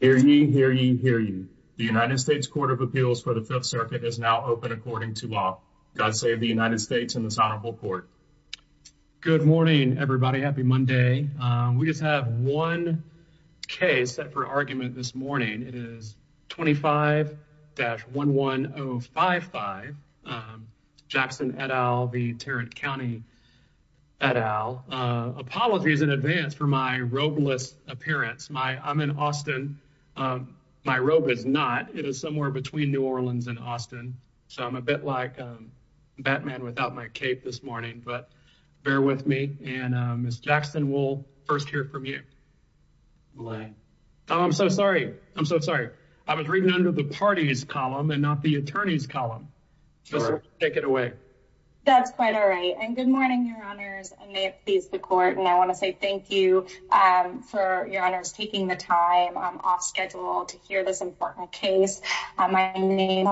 Hear you, hear you, hear you. The United States Court of Appeals for the Fifth Circuit is now open according to law. God save the United States and this honorable court. Good morning, everybody. Happy Monday. We just have one case set for argument this morning. It is 25-11055 Jackson et al. The Tarrant County et al. Apologies in advance for my robeless appearance. I'm in Austin. My robe is not. It is somewhere between New Orleans and Austin. So I'm a bit like Batman without my cape this morning. But bear with me. And Ms. Jackson, we'll first hear from you. I'm so sorry. I'm so sorry. I was reading under the party's column and not the attorney's column. Take it away. That's quite all right. And good morning, your honors. And may it please the court. And I want to say thank you for your honors taking the time off schedule to hear this important case. My name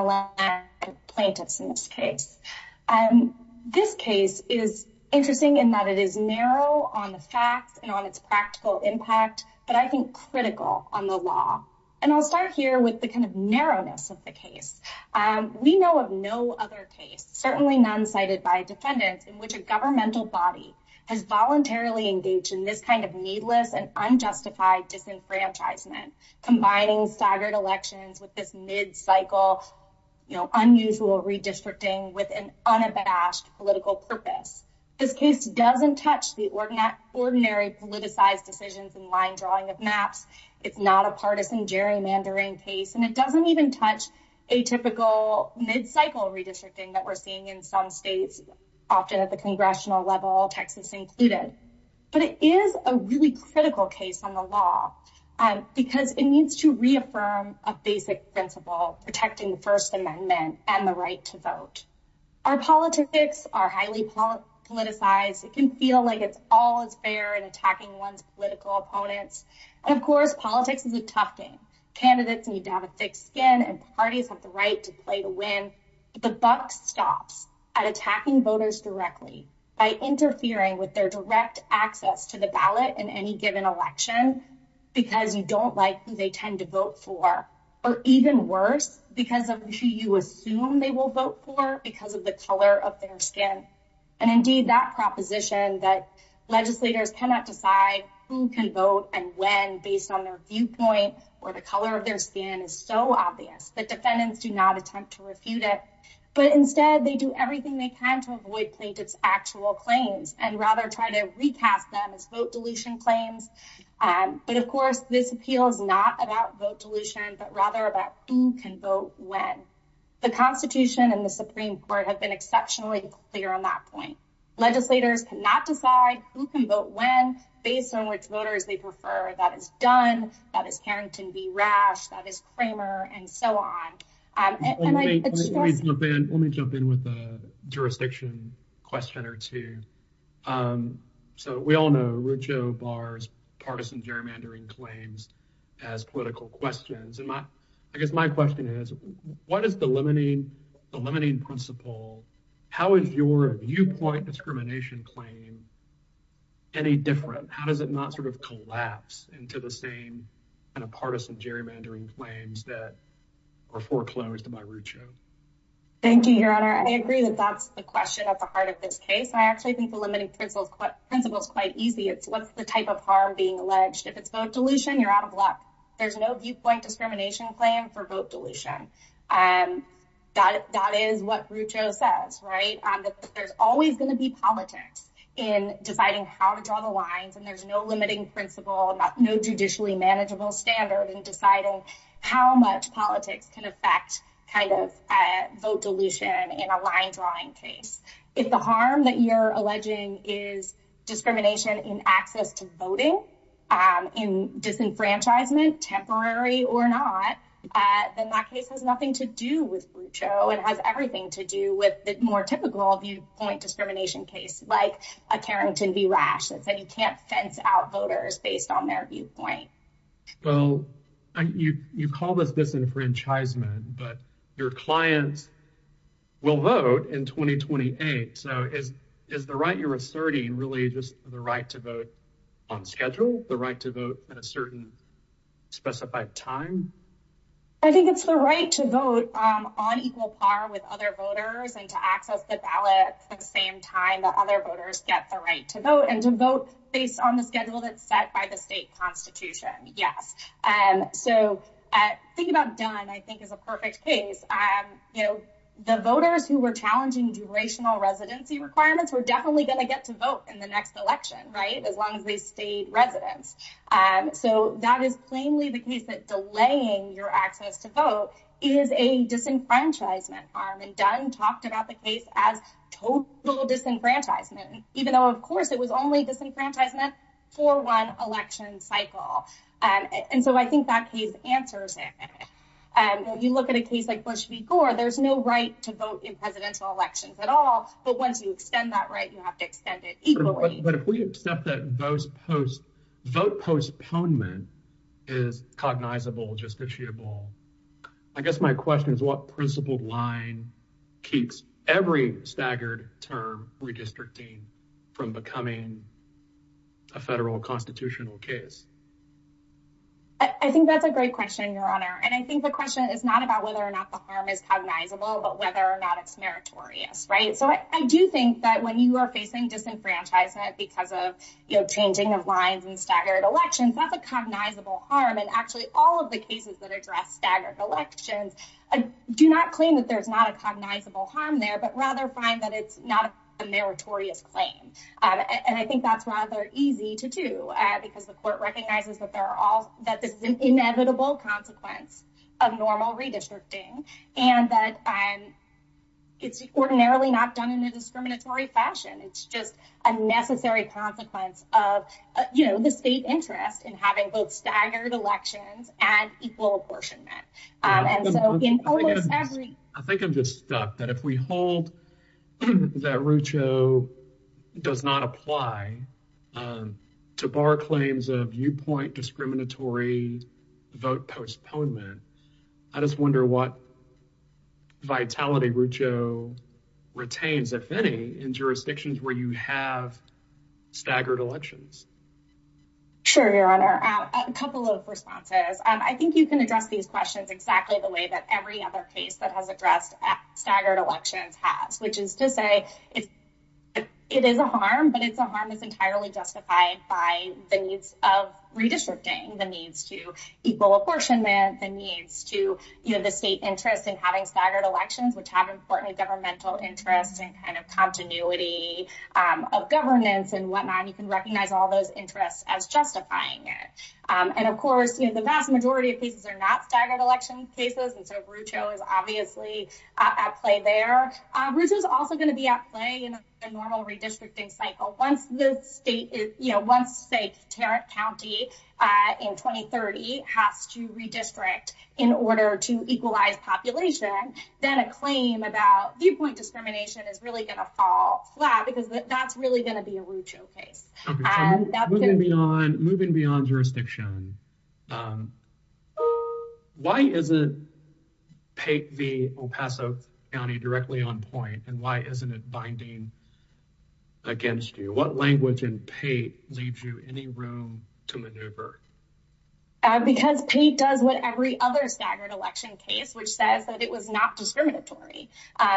plaintiffs in this case. And this case is interesting in that it is narrow on the facts and on its practical impact, but I think critical on the law. And I'll start here with the kind of narrowness of the case. We know of no other case, certainly none cited by defendants in which a governmental body has voluntarily engaged in this kind of needless and unjustified disenfranchisement, combining staggered elections with this mid-cycle, you know, unusual redistricting with an unabashed political purpose. This case doesn't touch the ordinary politicized decisions and line drawing of maps. It's not a partisan gerrymandering case. And it doesn't even touch a typical mid-cycle redistricting that we're seeing in some states, often at the congressional level, Texas included. But it is a really critical case on the law because it needs to reaffirm a basic principle, protecting the First Amendment and the right to vote. Our politics are highly politicized. It can feel like it's all is fair in attacking one's political opponents. And of course, politics is a tough game. Candidates need to have a thick skin and parties have the right to play to win. The buck stops at attacking voters directly by interfering with their direct access to the ballot in any given election because you don't like who they tend to vote for, or even worse, because of who you assume they will vote for because of the color of their skin. And indeed, that proposition that legislators cannot decide who can vote and when based on their viewpoint or the color of their skin is so obvious that defendants do not attempt to refute it. But instead, they do everything they can to avoid plaintiff's actual claims and rather try to recast them as vote dilution claims. But of course, this appeal is not about vote dilution, but rather about who can vote when. The Constitution and the Supreme Court have been exceptionally clear on that point. Legislators cannot decide who can vote when based on which voters they prefer. That is Dunn, that is Harrington v. Rash, that is Kramer, and so on. Let me jump in with a jurisdiction question or two. So we all know Rucho Barr's partisan gerrymandering claims as political questions. And I guess my question is, what is the limiting principle? How is your viewpoint discrimination claim any different? How does it not sort of collapse into the same kind of partisan gerrymandering claims that are foreclosed by Rucho? Thank you, Your Honor. I agree that that's the question at the heart of this case. I actually think the limiting principle is quite easy. It's what's the type of harm being alleged. If it's vote dilution, you're out of luck. There's no viewpoint discrimination claim for vote dilution. That is what Rucho says, right? There's always going to be politics in deciding how to draw the lines, and there's no limiting principle, no judicially manageable standard in deciding how much politics can affect kind of vote dilution in a line-drawing case. If the harm that you're alleging is discrimination in access to voting, in disenfranchisement, temporary or not, then that case has nothing to do with Rucho. It has everything to do with the more typical viewpoint discrimination case, like a Carrington v. Rash that said you can't fence out voters based on their viewpoint. Well, you call this disenfranchisement, but your clients will vote in 2028. So is the right you're asserting really just the right to vote on schedule, the right to vote at a certain specified time? I think it's the right to vote on equal par with other voters and to access the ballot at the same time that other voters get the right to vote, and to vote based on the schedule that's set by the state constitution, yes. So thinking about Dunn, I think is a perfect case. The voters who were challenging durational residency requirements were definitely going to get to vote in the next election, right, as long as they stayed residents. So that is plainly the case that delaying your access to vote is a disenfranchisement harm, and Dunn talked about the case as total disenfranchisement, even though of course it was only disenfranchisement for one election cycle. And so I think that case answers it. You look at a case like Bush v. Gore, there's no right to vote in presidential elections at all, but once you extend that right, you have to extend it equally. But if we accept that vote postponement is cognizable, justiciable, I guess my question is what principled line keeps every staggered term redistricting from becoming a federal constitutional case? I think that's a great question, your honor, and I think the question is not about whether or not the harm is cognizable, but whether or not it's meritorious, right? So I do think that when you are facing disenfranchisement because of changing of lines and staggered elections, that's a cognizable harm, and actually all of the cases that address staggered elections do not claim that there's not a cognizable harm there, but rather find that it's not a meritorious claim. And I think that's rather easy to do because the court recognizes that this is an inevitable consequence of normal redistricting and that it's ordinarily not done in a discriminatory fashion. It's just a necessary consequence of, you know, the state interest in having both staggered elections and equal apportionment. I think I'm just stuck that if we hold that Rucho does not apply to bar claims of viewpoint discriminatory vote postponement, I just wonder what vitality Rucho retains, if any, in jurisdictions where you have staggered elections. Sure, your honor, a couple of responses. I think you can address these questions exactly the way that every other case that has addressed staggered elections has, which is to say it it is a harm, but it's a harm that's entirely justified by the needs of redistricting, the needs to equal apportionment, the needs to, you know, the state interest in having staggered elections, which have important governmental interest and kind of continuity of governance and whatnot. You can recognize all those interests as justifying it. And of course, you know, the vast majority of cases are not staggered election cases, and so Rucho is obviously at play there. Rucho is also going to be at play in a normal redistricting cycle. Once the state, you know, once, say, Tarrant County in 2030 has to redistrict in order to equalize population, then a claim about viewpoint discrimination is really going to fall flat because that's really going to be a Rucho case. Moving beyond jurisdiction, why isn't Pate v. El Paso County directly on point, and why isn't it binding against you? What language in Pate leaves you any room to maneuver? Because Pate does what every other staggered election case, which says that it was not discriminatory.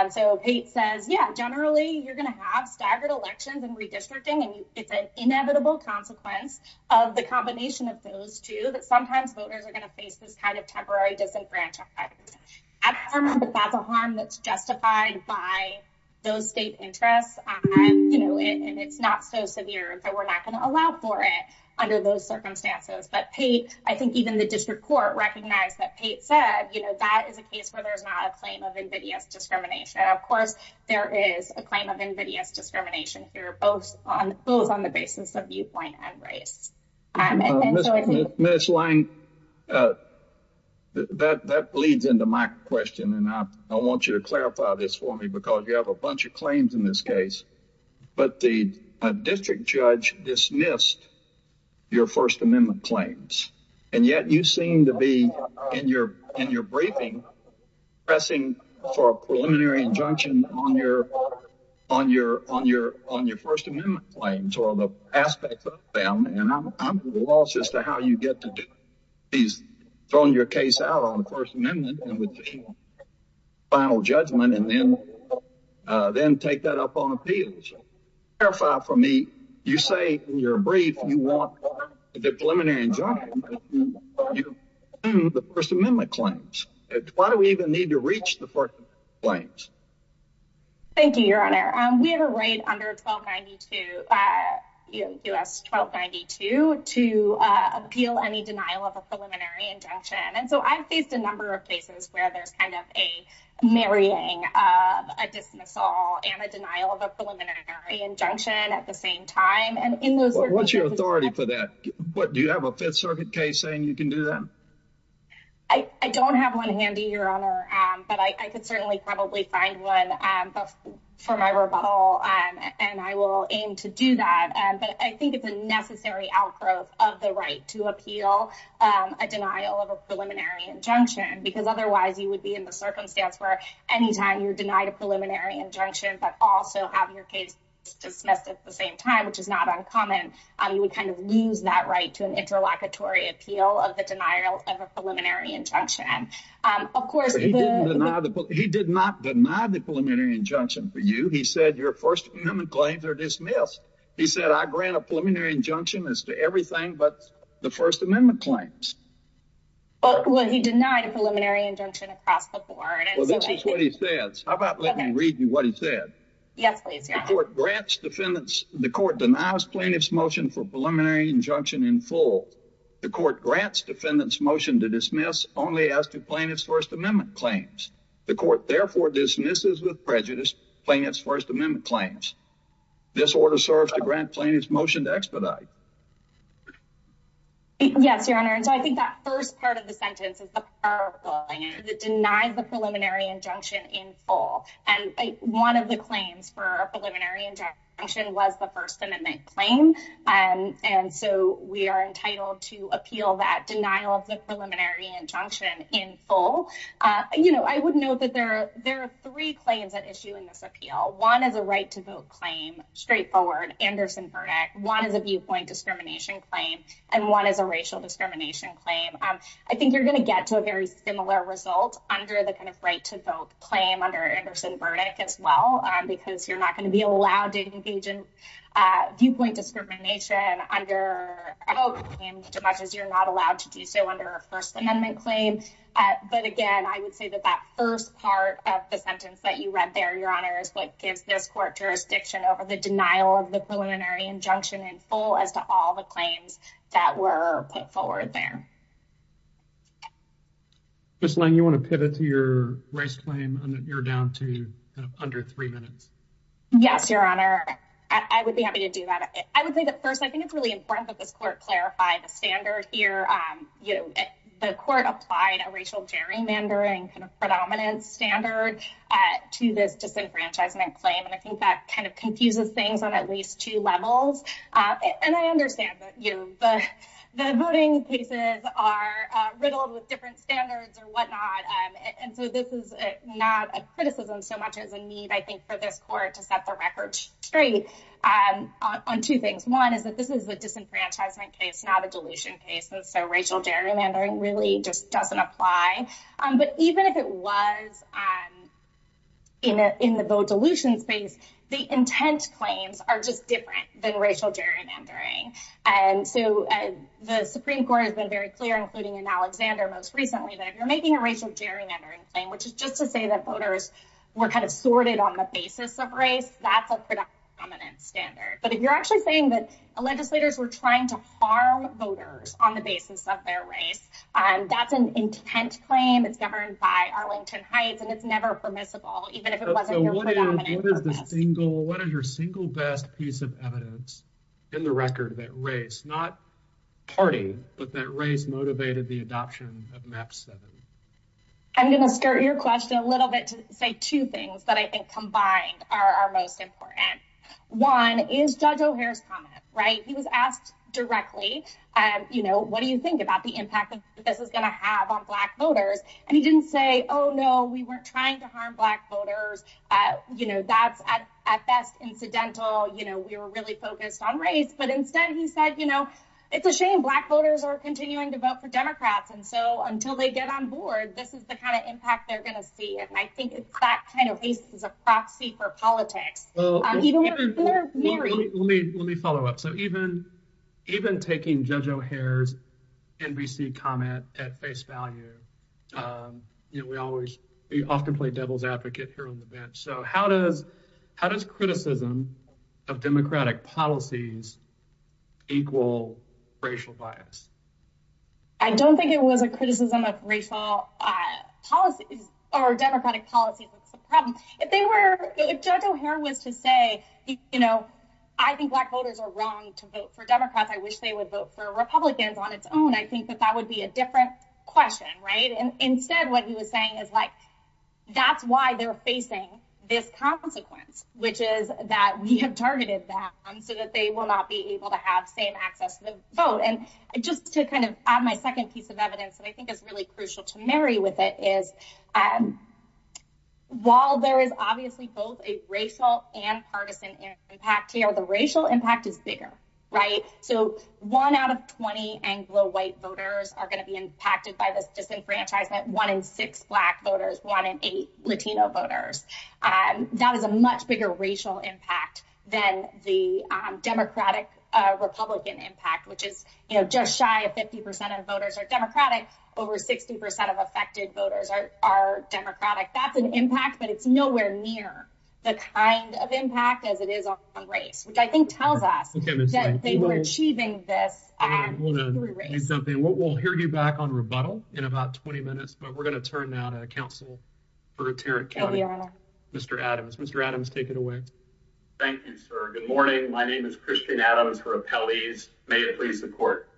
So, Pate says, yeah, generally you're going to have staggered elections and redistricting, and it's an inevitable consequence of the combination of things, that sometimes voters are going to face this kind of temporary disenfranchisement. I don't remember if that's a harm that's justified by those state interests, you know, and it's not so severe that we're not going to allow for it under those circumstances. But Pate, I think even the district court recognized that Pate said, you know, that is a case where there's not a claim of invidious discrimination. Of course, there is a claim of invidious discrimination here, both on the basis of viewpoint and race. Ms. Lang, that leads into my question, and I want you to clarify this for me, because you have a bunch of claims in this case, but the district judge dismissed your First Amendment claims, and yet you seem to be, in your briefing, pressing for a preliminary injunction on your First Amendment claims, or the aspects of them, and I'm lost as to how you get to throwing your case out on the First Amendment, and with the final judgment, and then take that up on appeals. Clarify for me, you say in your brief you want a preliminary injunction, you assume the First Amendment claims. Why do we even need to reach the First Amendment claims? Thank you, Your Honor. We have a right under U.S. 1292 to appeal any denial of a preliminary injunction, and so I've faced a number of cases where there's kind of a marrying, a dismissal, and a denial of a preliminary injunction at the same time, and in those circumstances- What's your authority for that? Do you have a Fifth Circuit case saying you can do that? I don't have one handy, Your Honor, but I could certainly probably find one for my rebuttal, and I will aim to do that, but I think it's a necessary outgrowth of the right to appeal a denial of a preliminary injunction, because otherwise you would be in the circumstance where anytime you're denied a preliminary injunction, but also have your case dismissed at the same time, which is not uncommon, you would kind of lose that right to an interlocutory appeal of the denial of a preliminary injunction. He did not deny the preliminary injunction for you. He said your First Amendment claims are dismissed. He said, I grant a preliminary injunction as to everything but the First Amendment claims. Well, he denied a preliminary injunction across the board. Well, this is what he says. How about let me read you what he said. Yes, please, Your Honor. The court denies plaintiff's motion for preliminary injunction in full. The court grants defendant's motion to dismiss only as to plaintiff's First Amendment claims. The court therefore dismisses with prejudice plaintiff's First Amendment claims. This order serves to grant plaintiff's motion to expedite. Yes, Your Honor, so I think that first part of the sentence is the denial of the preliminary injunction in full, and one of the claims for a preliminary injunction was the First Amendment claim, and so we are entitled to appeal that denial of the preliminary injunction in full. I would note that there are three claims at issue in this appeal. One is a right to vote claim, straightforward Anderson verdict. One is a viewpoint discrimination claim, and one is a racial discrimination claim. I think you're going to get to a very similar result under the kind of right to vote claim under Anderson verdict as well, because you're not going to be allowed to engage in viewpoint discrimination under a vote claim as much as you're not allowed to do so under a First Amendment claim. But again, I would say that that first part of the sentence that you read there, Your Honor, is what gives this court jurisdiction over the denial of the preliminary injunction in full as to all the claims that were put forward there. Ms. Lang, you want to pivot to your race claim? You're down to under three minutes. Yes, Your Honor, I would be happy to do that. I would say that first, I think it's really important that this court clarify the standard here. You know, the court applied a racial gerrymandering kind of predominant standard to this disenfranchisement claim, and I think that kind of confuses things on at least two levels. And I understand that, you know, the voting cases are riddled with different standards or whatnot, and so this is not a so much as a need, I think, for this court to set the record straight on two things. One is that this is a disenfranchisement case, not a dilution case, and so racial gerrymandering really just doesn't apply. But even if it was in the vote dilution space, the intent claims are just different than racial gerrymandering. And so the Supreme Court has been very clear, including in Alexander most recently, that if you're making a racial gerrymandering claim, which is just to say voters were kind of sorted on the basis of race, that's a predominant standard. But if you're actually saying that legislators were trying to harm voters on the basis of their race, that's an intent claim. It's governed by Arlington Heights, and it's never permissible, even if it wasn't your predominant purpose. So what is the single, what is your single best piece of evidence in the record that race, not party, but that race motivated the adoption of MAP-7? I'm going to skirt your question a little bit to say two things that I think combined are most important. One is Judge O'Hare's comment, right? He was asked directly, you know, what do you think about the impact that this is going to have on Black voters? And he didn't say, oh no, we weren't trying to harm Black voters, you know, that's at best incidental, you know, we were really focused on race. But instead he said, you know, it's a shame Black voters are continuing to vote for Democrats. And so until they get on board, this is the kind of impact they're going to see. And I think that kind of is a proxy for politics. Let me follow up. So even taking Judge O'Hare's NBC comment at face value, you know, we always often play devil's advocate here on the bench. So how does criticism of democratic policies equal racial bias? I don't think it was a criticism of racial policies or democratic policies. That's the problem. If they were, if Judge O'Hare was to say, you know, I think Black voters are wrong to vote for Democrats. I wish they would vote for Republicans on its own. I think that that would be a different question, right? And instead what he was saying is like, that's why they're facing this consequence, which is that we have targeted them so that they will not be able to have same vote. And just to kind of add my second piece of evidence that I think is really crucial to marry with it is while there is obviously both a racial and partisan impact here, the racial impact is bigger, right? So one out of 20 Anglo white voters are going to be impacted by this disenfranchisement. One in six Black voters, one in eight Latino voters. That is a much bigger impact than the Democratic-Republican impact, which is, you know, just shy of 50% of voters are Democratic. Over 60% of affected voters are Democratic. That's an impact, but it's nowhere near the kind of impact as it is on race, which I think tells us that they were achieving this. We'll hear you back on rebuttal in about 20 minutes, but we're going to turn now to counsel for Tarrant County. Mr. Adams. Mr. Adams, take it away. Thank you, sir. Good morning. My name is Christian Adams for appellees. May it please the court.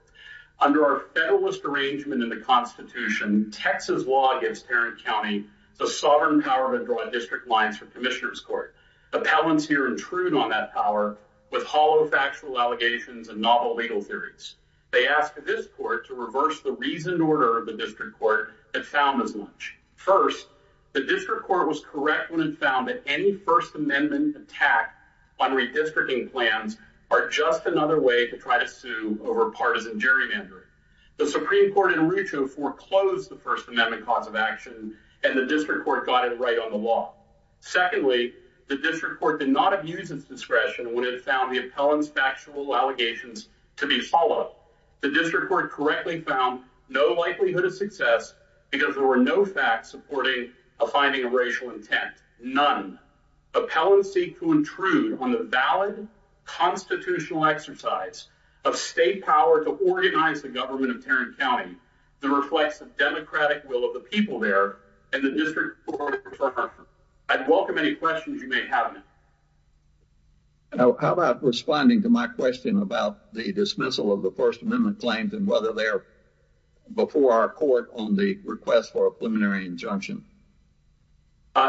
Under our Federalist Arrangement in the Constitution, Texas law gives Tarrant County the sovereign power to draw district lines for Commissioner's Court. Appellants here intrude on that power with hollow factual allegations and novel legal theories. They asked this court to reverse the reasoned order of the district court and found as much. First, the district court was correct when it found that any First Amendment attack on redistricting plans are just another way to try to sue over partisan gerrymandering. The Supreme Court in Rucho foreclosed the First Amendment cause of action and the district court got it right on the law. Secondly, the district court did not abuse its discretion when it found the appellant's factual allegations to be hollow. The district court correctly found no likelihood of success because there were no facts supporting a finding of racial intent. None. Appellants seek to intrude on the valid constitutional exercise of state power to organize the government of Tarrant County that reflects the democratic will of the people there and the district court. I'd welcome any questions you may have. How about responding to my question about the dismissal of the First Amendment claims and whether they're before our court on the request for a preliminary injunction?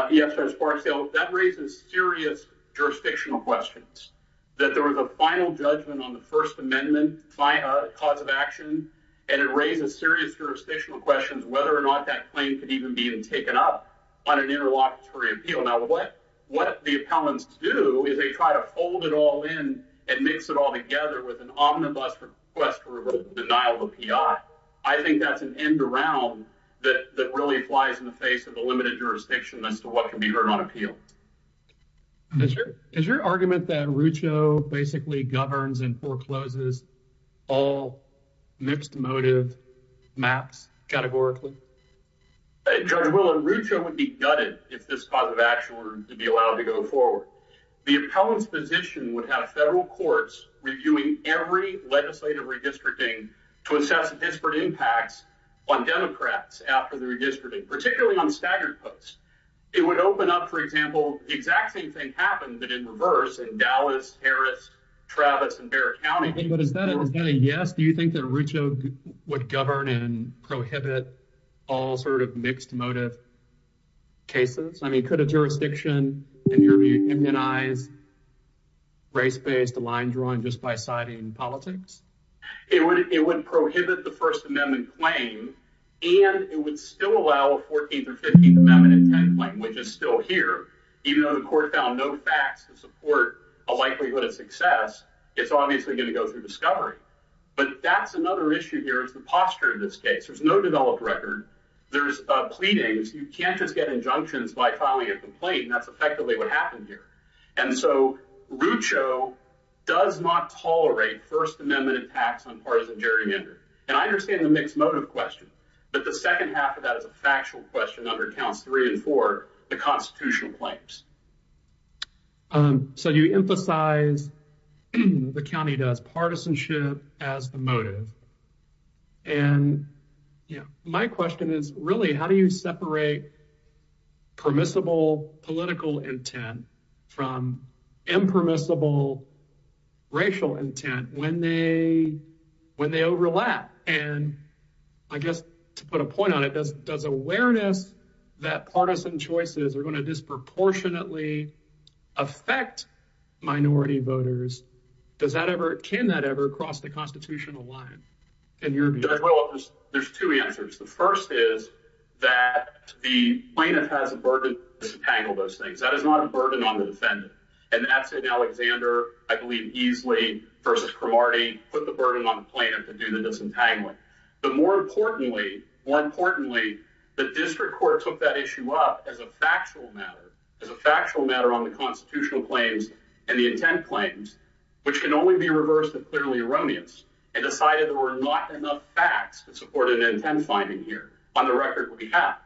Yes, that raises serious jurisdictional questions that there was a final judgment on the First Amendment cause of action and it raises serious jurisdictional questions whether or not that claim could even be taken up on an interlocutory appeal. Now, what the appellants do is they try to fold it all in and mix it all together with an omnibus request to revoke the denial of the P.I. I think that's an end around that really applies in the face of the limited jurisdiction as to what can be heard on appeal. Is your argument that Rucho basically governs and forecloses all mixed motive maps categorically? Judge Willard, Rucho would be gutted if this cause would be allowed to go forward. The appellant's position would have federal courts reviewing every legislative redistricting to assess disparate impacts on Democrats after the redistricting, particularly on staggered posts. It would open up, for example, the exact same thing happened, but in reverse in Dallas, Harris, Travis, and Barrett County. But is that a yes? Do you think Rucho would govern and prohibit all sort of mixed motive cases? I mean, could a jurisdiction immunize race-based line drawing just by citing politics? It would prohibit the First Amendment claim and it would still allow a 14th or 15th Amendment intent, which is still here. Even though the court found no facts to support a likelihood of success, it's obviously going to go through discovery. But that's another issue here is the posture of this case. There's no developed record. There's pleadings. You can't just get injunctions by filing a complaint, and that's effectively what happened here. And so, Rucho does not tolerate First Amendment impacts on partisan gerrymandering. And I understand the mixed motive question, but the second half of that is a factual question under counts three and four, the constitutional claims. So, you emphasize the county does partisanship as the motive. And my question is, really, how do you separate permissible political intent from impermissible racial intent when they overlap? And I guess to put a point on it, does awareness that partisan choices are going to disproportionately affect minority voters, does that ever, can that ever cross the constitutional line? There's two answers. The first is that the plaintiff has a burden to disentangle those things. That is not a burden on the defendant. And that's an Alexander, I believe, Easley versus Cromartie put the burden on the plaintiff to do the disentangling. But more importantly, more importantly, the district court took that issue up as a factual matter, as a factual matter on the constitutional claims and the intent claims, which can only be reversed if clearly erroneous and decided there were not enough facts to support an intent finding here on the record we have.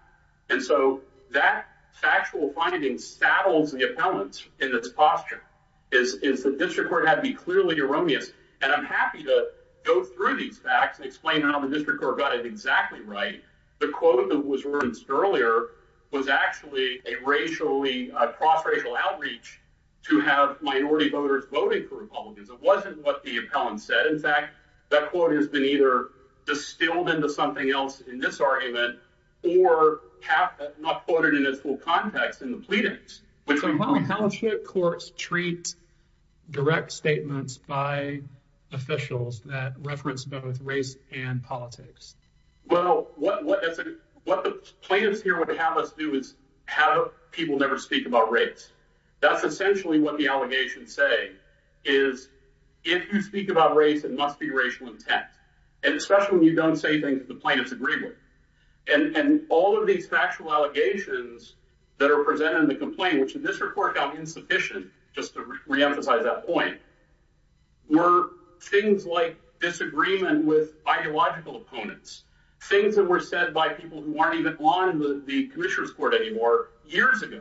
And so, that factual finding saddles the appellant in this posture, is the district court had to be clearly erroneous. And I'm happy to go through these facts and how the district court got it exactly right. The quote that was referenced earlier was actually a racially, a cross-racial outreach to have minority voters voting for Republicans. It wasn't what the appellant said. In fact, that quote has been either distilled into something else in this argument or not quoted in its full context in the pleadings. Appellant courts treat direct statements by officials that reference both race and politics. Well, what the plaintiffs here would have us do is have people never speak about race. That's essentially what the allegations say, is if you speak about race, it must be racial intent. And especially when you don't say things the plaintiffs agree with. And all of these factual allegations that are presented in the complaint, which the district court found insufficient, just to reemphasize that point, were things like disagreement with ideological opponents. Things that were said by people who weren't even on the commissioner's court anymore years ago.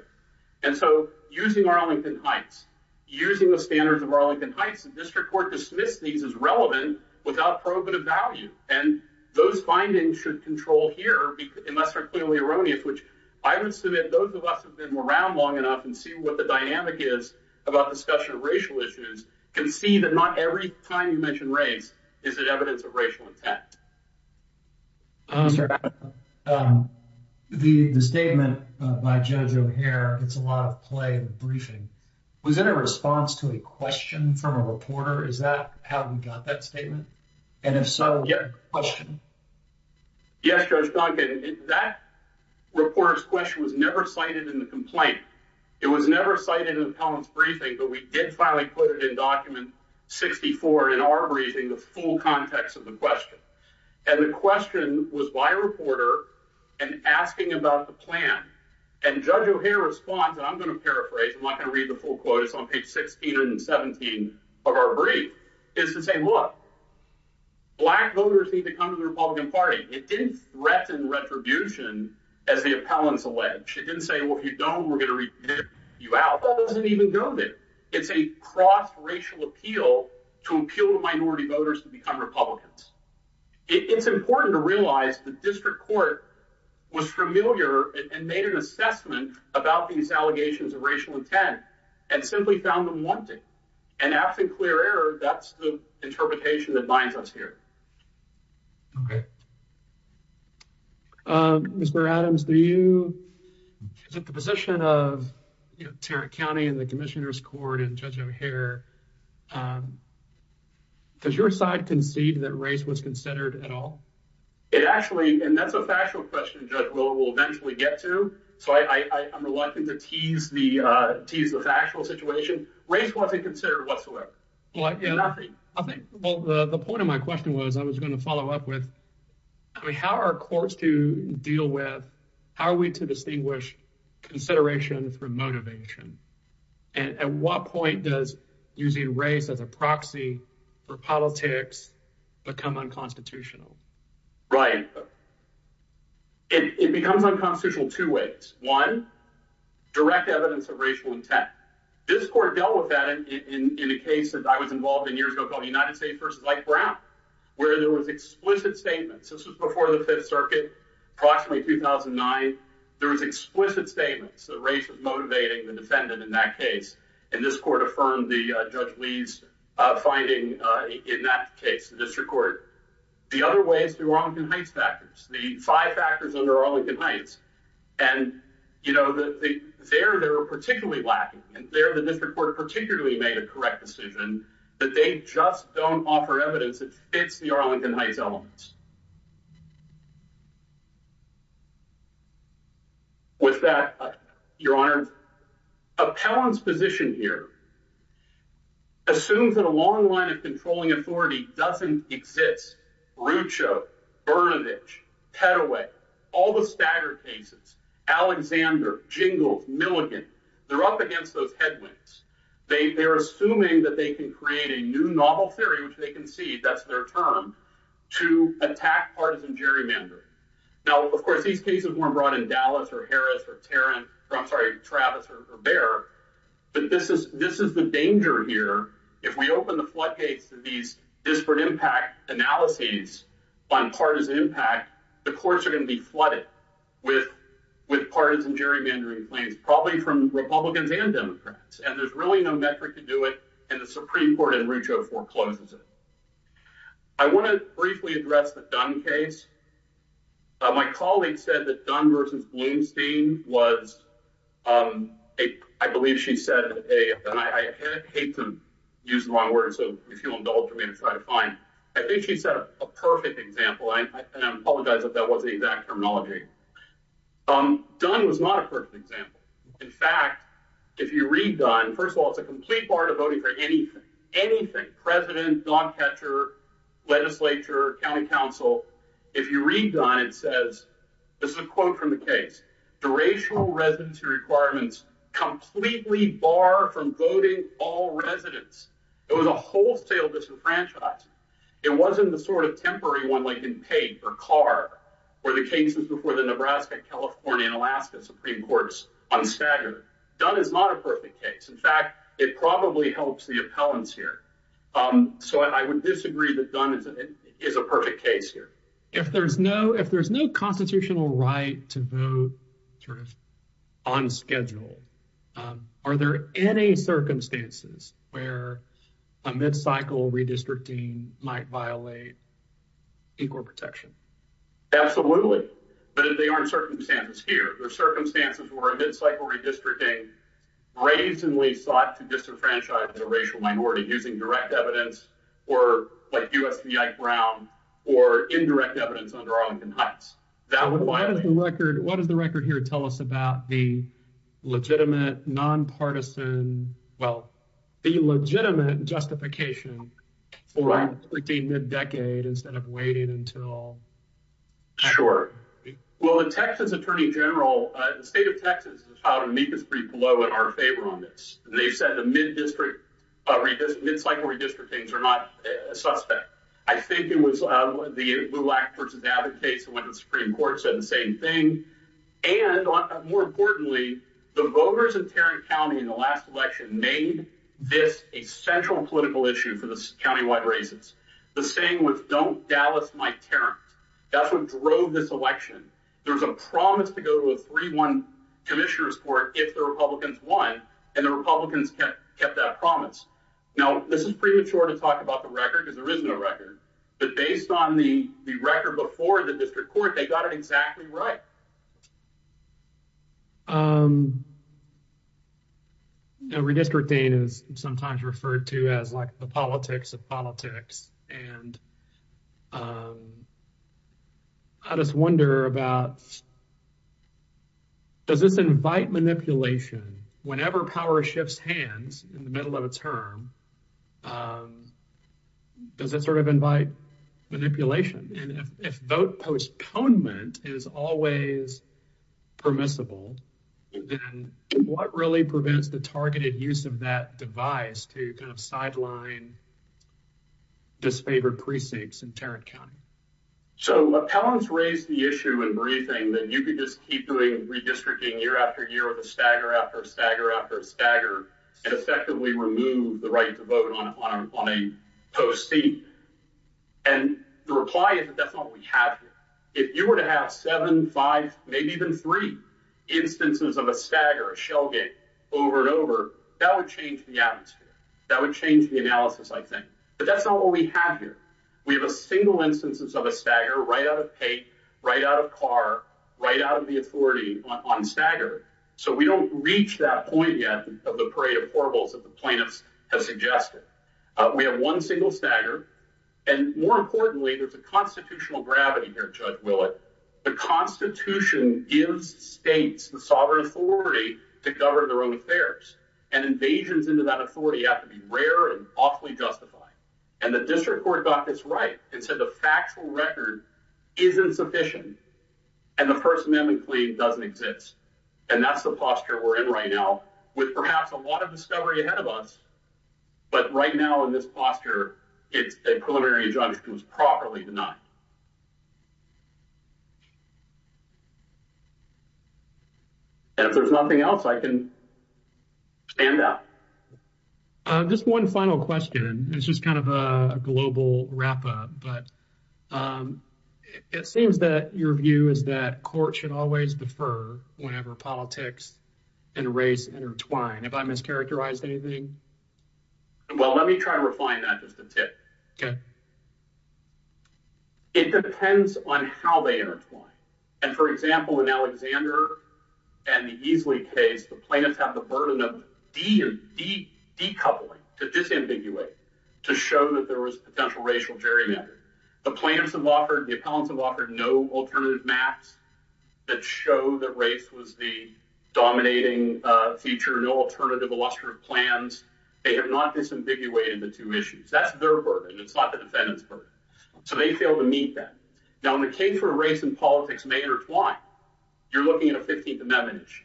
And so, using Arlington Heights, using the standards of Arlington Heights, the district court dismissed these as relevant without probative value. And those findings should control here, unless they're clearly erroneous, which I would submit those of us who've been around long enough and see what the dynamic is about discussion of racial issues, can see that not every time you mention race is it evidence of racial intent. The statement by Judge O'Hare, it's a lot of play in the briefing, was it a response to a question from a reporter? Is that how we got that statement? And if so, what was the question? Yes, Judge Duncan, that reporter's question was never cited in the complaint. It was never cited in the appellant's briefing, but we did finally put it in document 64 in our briefing, the full context of the question. And the question was by a reporter and asking about the plan. And Judge O'Hare's response, and I'm going to paraphrase, I'm not going to read the full quote, it's on page 16 17 of our brief, is to say, look, black voters need to come to the Republican Party. It didn't threaten retribution, as the appellants allege. It didn't say, well, if you don't, we're going to rip you out. That doesn't even go there. It's a cross racial appeal to appeal to minority voters to become Republicans. It's important to realize the district court was familiar and made an assessment about these allegations of racial intent and simply found them wanting. And after clear error, that's the interpretation that binds us here. Okay. Mr. Adams, is it the position of Tarrant County and the Commissioner's Court and Judge O'Hare, does your side concede that race was considered at all? It actually, and that's a factual question Judge Willow will eventually get to, so I'm reluctant to tease the factual situation. Race wasn't considered whatsoever. I think, well, the point of my question was, I was going to follow up with, I mean, how are courts to deal with, how are we to distinguish consideration through motivation? And at what point does using race as a proxy for politics become unconstitutional? Right. It becomes unconstitutional two ways. One, direct evidence of racial intent. This court dealt with that in a case that I was involved in years ago called the United States versus Ike Brown, where there was explicit statements. This was before the Fifth Circuit, approximately 2009. There was explicit statements that race was motivating the defendant in that case. And this court affirmed the Judge Lee's finding in that case, the district court. The other way is through Arlington Heights factors, the five factors under Arlington Heights. And, you know, there they were particularly lacking, and there the district court particularly made a correct decision that they just don't offer evidence that fits the Arlington Heights elements. With that, Your Honor, Appellant's position here assumes that a long line of controlling authority doesn't exist. Rucho, Bernadich, Pettoway, all the staggered cases, Alexander, Jingles, Milligan, they're up against those headwinds. They're assuming that they can create a new novel theory, which they can see, that's their term, to attack the district court. And that's not attack partisan gerrymandering. Now, of course, these cases weren't brought in Dallas, or Harris, or Tarrant, or I'm sorry, Travis, or Behr. But this is the danger here. If we open the floodgates to these disparate impact analyses on partisan impact, the courts are going to be flooded with partisan gerrymandering claims, probably from Republicans and Democrats. And there's really no metric to do it, and the Supreme Court in Rucho forecloses it. I want to briefly address the Dunn case. My colleague said that Dunn versus Blumstein was, I believe she said, and I hate to use the wrong word, so if you'll indulge me, it's fine. I think she set a perfect example, and I apologize if that wasn't the exact terminology. Dunn was not a perfect example. In fact, if you read Dunn, first of all, it's a complete part of voting for anything. Anything. President, dog catcher, legislature, county council. If you read Dunn, it says, this is a quote from the case, the racial residency requirements completely bar from voting all residents. It was a wholesale disenfranchisement. It wasn't the sort of temporary one like in Pate or Carr, where the cases before the Nebraska, California, and Alaska Supreme Courts, unstaggered. Dunn is not a perfect case. In fact, it probably helps the appellants here. So I would disagree that Dunn is a perfect case here. If there's no constitutional right to vote sort of on schedule, are there any circumstances where a mid-cycle redistricting might violate equal protection? Absolutely, but they aren't circumstances here. They're circumstances where a mid-cycle redistricting brazenly sought to disenfranchise a racial minority using direct evidence or like U.S.B.I. Brown or indirect evidence under Arlington Heights. What does the record here tell us about the legitimate, nonpartisan, well, the legitimate justification for a mid-decade instead of waiting until. Sure. Well, the Texas Attorney General, the state of Texas, has filed an amicus brief below in our favor on this. They've said the mid-cycle redistrictings are not a suspect. I think it was the Lulak v. Abbott case when the Supreme Court said the same thing. And more importantly, the voters of Tarrant County in the last election made this a central political issue for the That's what drove this election. There was a promise to go to a 3-1 commissioner's court if the Republicans won, and the Republicans kept that promise. Now, this is premature to talk about the record because there is no record, but based on the record before the district court, they got it exactly right. Redistricting is sometimes referred to as like the politics of politics, and I just wonder about, does this invite manipulation? Whenever power shifts hands in the middle of a term, does it sort of invite manipulation? And if vote postponement is always permissible, then what really prevents the targeted use of that device to kind of sideline and disfavor precincts in Tarrant County? So, appellants raised the issue in briefing that you could just keep doing redistricting year after year with a stagger after a stagger after a stagger and effectively remove the right to vote on a post-seed. And the reply is that that's not what we have here. If you were to have seven, five, maybe even three instances of a over and over, that would change the atmosphere. That would change the analysis, I think. But that's not what we have here. We have a single instance of a stagger right out of hate, right out of car, right out of the authority on stagger. So, we don't reach that point yet of the parade of poor votes that the plaintiffs have suggested. We have one single stagger, and more importantly, there's a constitutional gravity here, Judge Willett. The Constitution gives states the sovereign authority to govern their own affairs, and invasions into that authority have to be rare and awfully justified. And the district court got this right and said the factual record isn't sufficient, and the First Amendment claim doesn't exist. And that's the posture we're in right now, with perhaps a lot of discovery ahead of us. But right now, in this posture, a preliminary injunction was properly denied. And if there's nothing else, I can stand up. Just one final question, and this is kind of a global wrap-up, but it seems that your view is that court should always defer whenever politics and race intertwine. Have I mischaracterized anything? Well, let me try to refine that, just a tip. Okay. It depends on how they intertwine. And for example, in Alexander and the Easley case, the plaintiffs have the burden of decoupling, to disambiguate, to show that there was potential racial gerrymandering. The plaintiffs have offered, the appellants have offered no alternative maps that show that race was the dominating feature, no alternative illustrative plans. They have not disambiguated the two issues. That's their burden. It's not the defendant's burden. So they fail to meet that. Now, in the case where race and politics may intertwine, you're looking at a 15th Amendment issue.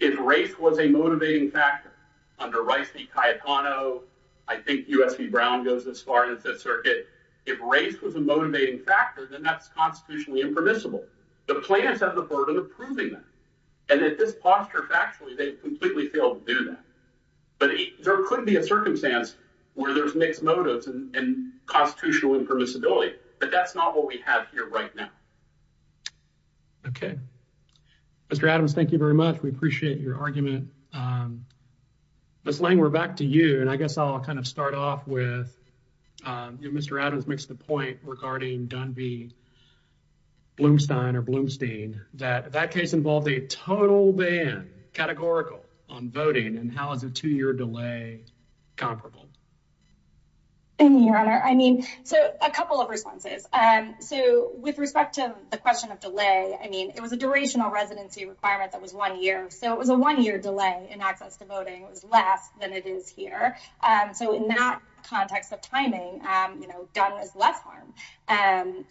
If race was a motivating factor, under Rice v. Cayetano, I think U.S. v. Brown goes as far as the Fifth Circuit, if race was a motivating factor, then that's constitutionally impermissible. The plaintiffs have the burden of proving that. And at this posture, factually, they've completely failed to do that. But there could be a circumstance where there's mixed motives and constitutional impermissibility, but that's not what we have here right now. Okay. Mr. Adams, thank you very much. We appreciate your argument. Ms. Lang, we're back to you. And I guess I'll kind of start off with, you know, Mr. Adams makes the point regarding Dunby, Blumstein, or Blumstein, that that case involved a total ban, categorical, on voting. And how is a two-year delay comparable? Your Honor, I mean, so a couple of responses. So with respect to the question of delay, I mean, it was a durational residency requirement that was one year. So it was a one-year delay in access to voting. It was less than it is here. So in that context of timing, you know, Dun was less harm.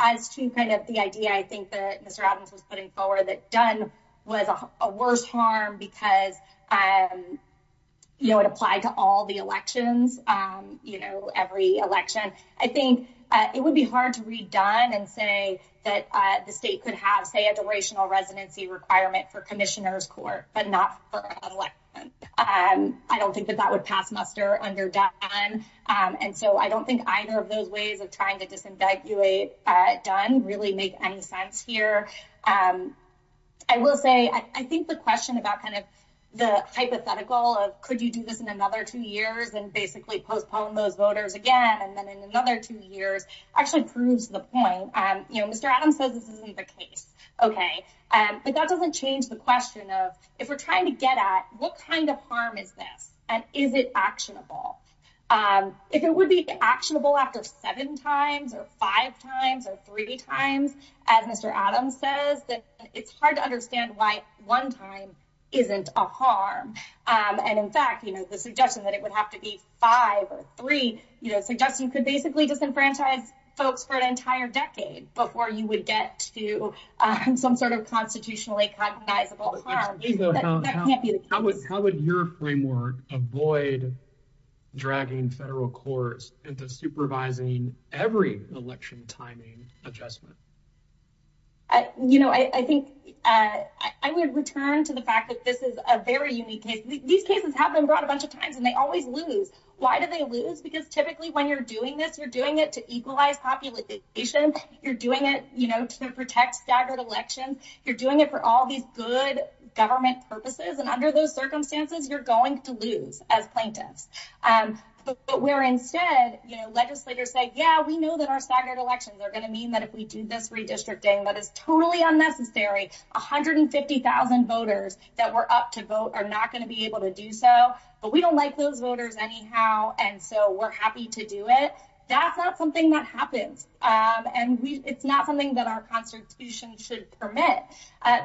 As to kind of the idea, I think that Mr. Adams was putting forward that Dun was a worse harm because, you know, it applied to all the elections, you know, every election. I think it would be hard to read Dun and say that the state could have, say, a durational residency requirement for Commissioner's Court, but not for an election. I don't think that that would pass muster under Dun. And so I don't think either of those ways of trying to disambiguate Dun really make any sense here. I will say, I think the question about kind of the hypothetical of could you do this in another two years and basically postpone those voters again, and then in another two years, actually proves the point. You know, Mr. Adams says this isn't the case. Okay. But that doesn't change the question of if we're trying to get at what kind of harm is this, and is it actionable? If it would be actionable after seven times or five times or three times, as Mr. Adams says, then it's hard to understand why one time isn't a harm. And in fact, you know, the suggestion that it would have to be five or three, you know, suggests you could basically disenfranchise folks for an entire decade before you would get to some sort of constitutionally cognizable harm. That can't be the case. How would your framework avoid dragging federal courts into supervising every election timing adjustment? You know, I think I would return to the fact that this is a very unique case. These cases have been brought a bunch of times and they always lose. Why do they lose? Because typically when you're doing this, you're doing it to equalize population. You're doing it, you know, to protect staggered elections. You're doing it for all these good government purposes. And under those circumstances, you're going to lose as plaintiffs. But where instead, you know, legislators say, yeah, we know that our staggered elections are going to mean that if we do this redistricting, that is totally unnecessary. 150,000 voters that were up to vote are not going to be able to do so. But we don't like those voters anyhow. And so we're happy to do it. That's not something that happens. And it's not something that our constitution should permit.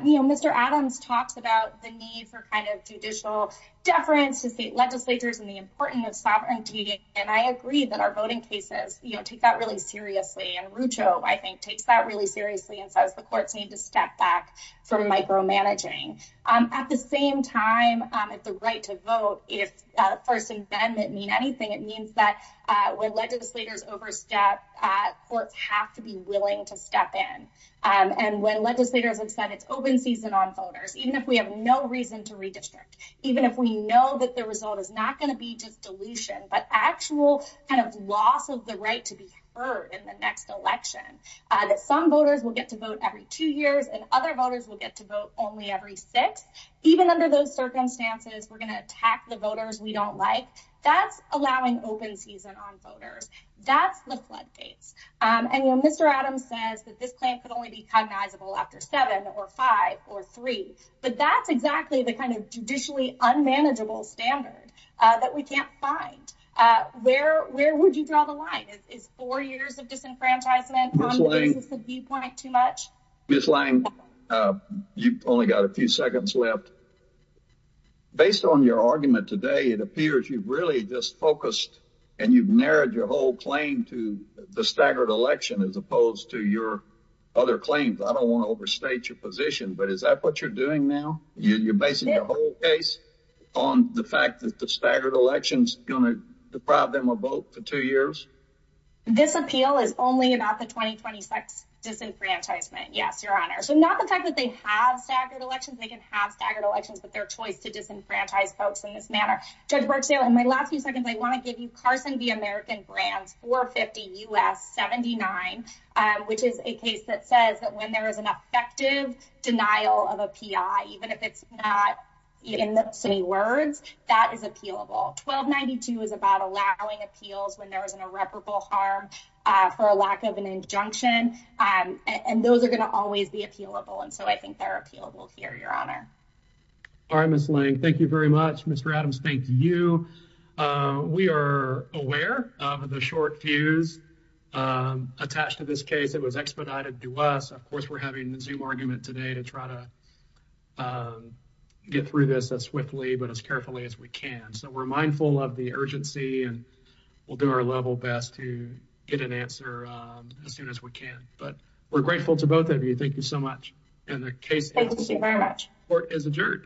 You know, Mr. Adams talks about the need for kind of judicial deference to state legislatures and the importance of sovereignty. And I agree that our voting cases, you know, take that really seriously. And Rucho, I think, takes that really seriously and says the courts need to step back from micromanaging. At the same time, it's the right to vote. If First Amendment mean anything, it means that when legislators overstep, courts have to be willing to step in. And when legislators have said it's open season on voters, even if we have no reason to redistrict, even if we know that the result is not going to be just dilution, but actual kind of loss of the right to be heard in the next election, that some voters will get to vote every two years and other voters will get to vote only every six. Even under those circumstances, we're going to attack the voters we don't like. That's allowing open season on voters. That's the floodgates. And when Mr. Adams says that this plan could only be cognizable after seven or five or three, but that's exactly the kind of judicially unmanageable standard that we can't find. Where would you draw the line? Is four years of disenfranchisement a viewpoint too much? Ms. Lange, you've only got a few seconds left. Based on your argument today, it appears you've really just focused and you've narrowed your whole claim to the staggered election as opposed to your other claims. I don't want to overstate your position, but is that what you're doing now? You're basing your whole case on the fact that staggered elections going to deprive them of both for two years? This appeal is only about the 2026 disenfranchisement. Yes, your honor. So not the fact that they have staggered elections, they can have staggered elections, but their choice to disenfranchise folks in this manner. Judge Barksdale, in my last few seconds, I want to give you Carson v. American Brands 450 U.S. 79, which is a case that says that when there is an effective denial of a P.I., even if it's not in the city words, that is appealable. 1292 is about allowing appeals when there is an irreparable harm for a lack of an injunction, and those are going to always be appealable, and so I think they're appealable here, your honor. All right, Ms. Lange, thank you very much. Mr. Adams, thank you. We are aware of the short fuse attached to this case. It was expedited to us. Of course, we're having the Zoom argument today to try to get through this as swiftly but as carefully as we can, so we're mindful of the urgency, and we'll do our level best to get an answer as soon as we can, but we're grateful to both of you. Thank you so much, and the case court is adjourned.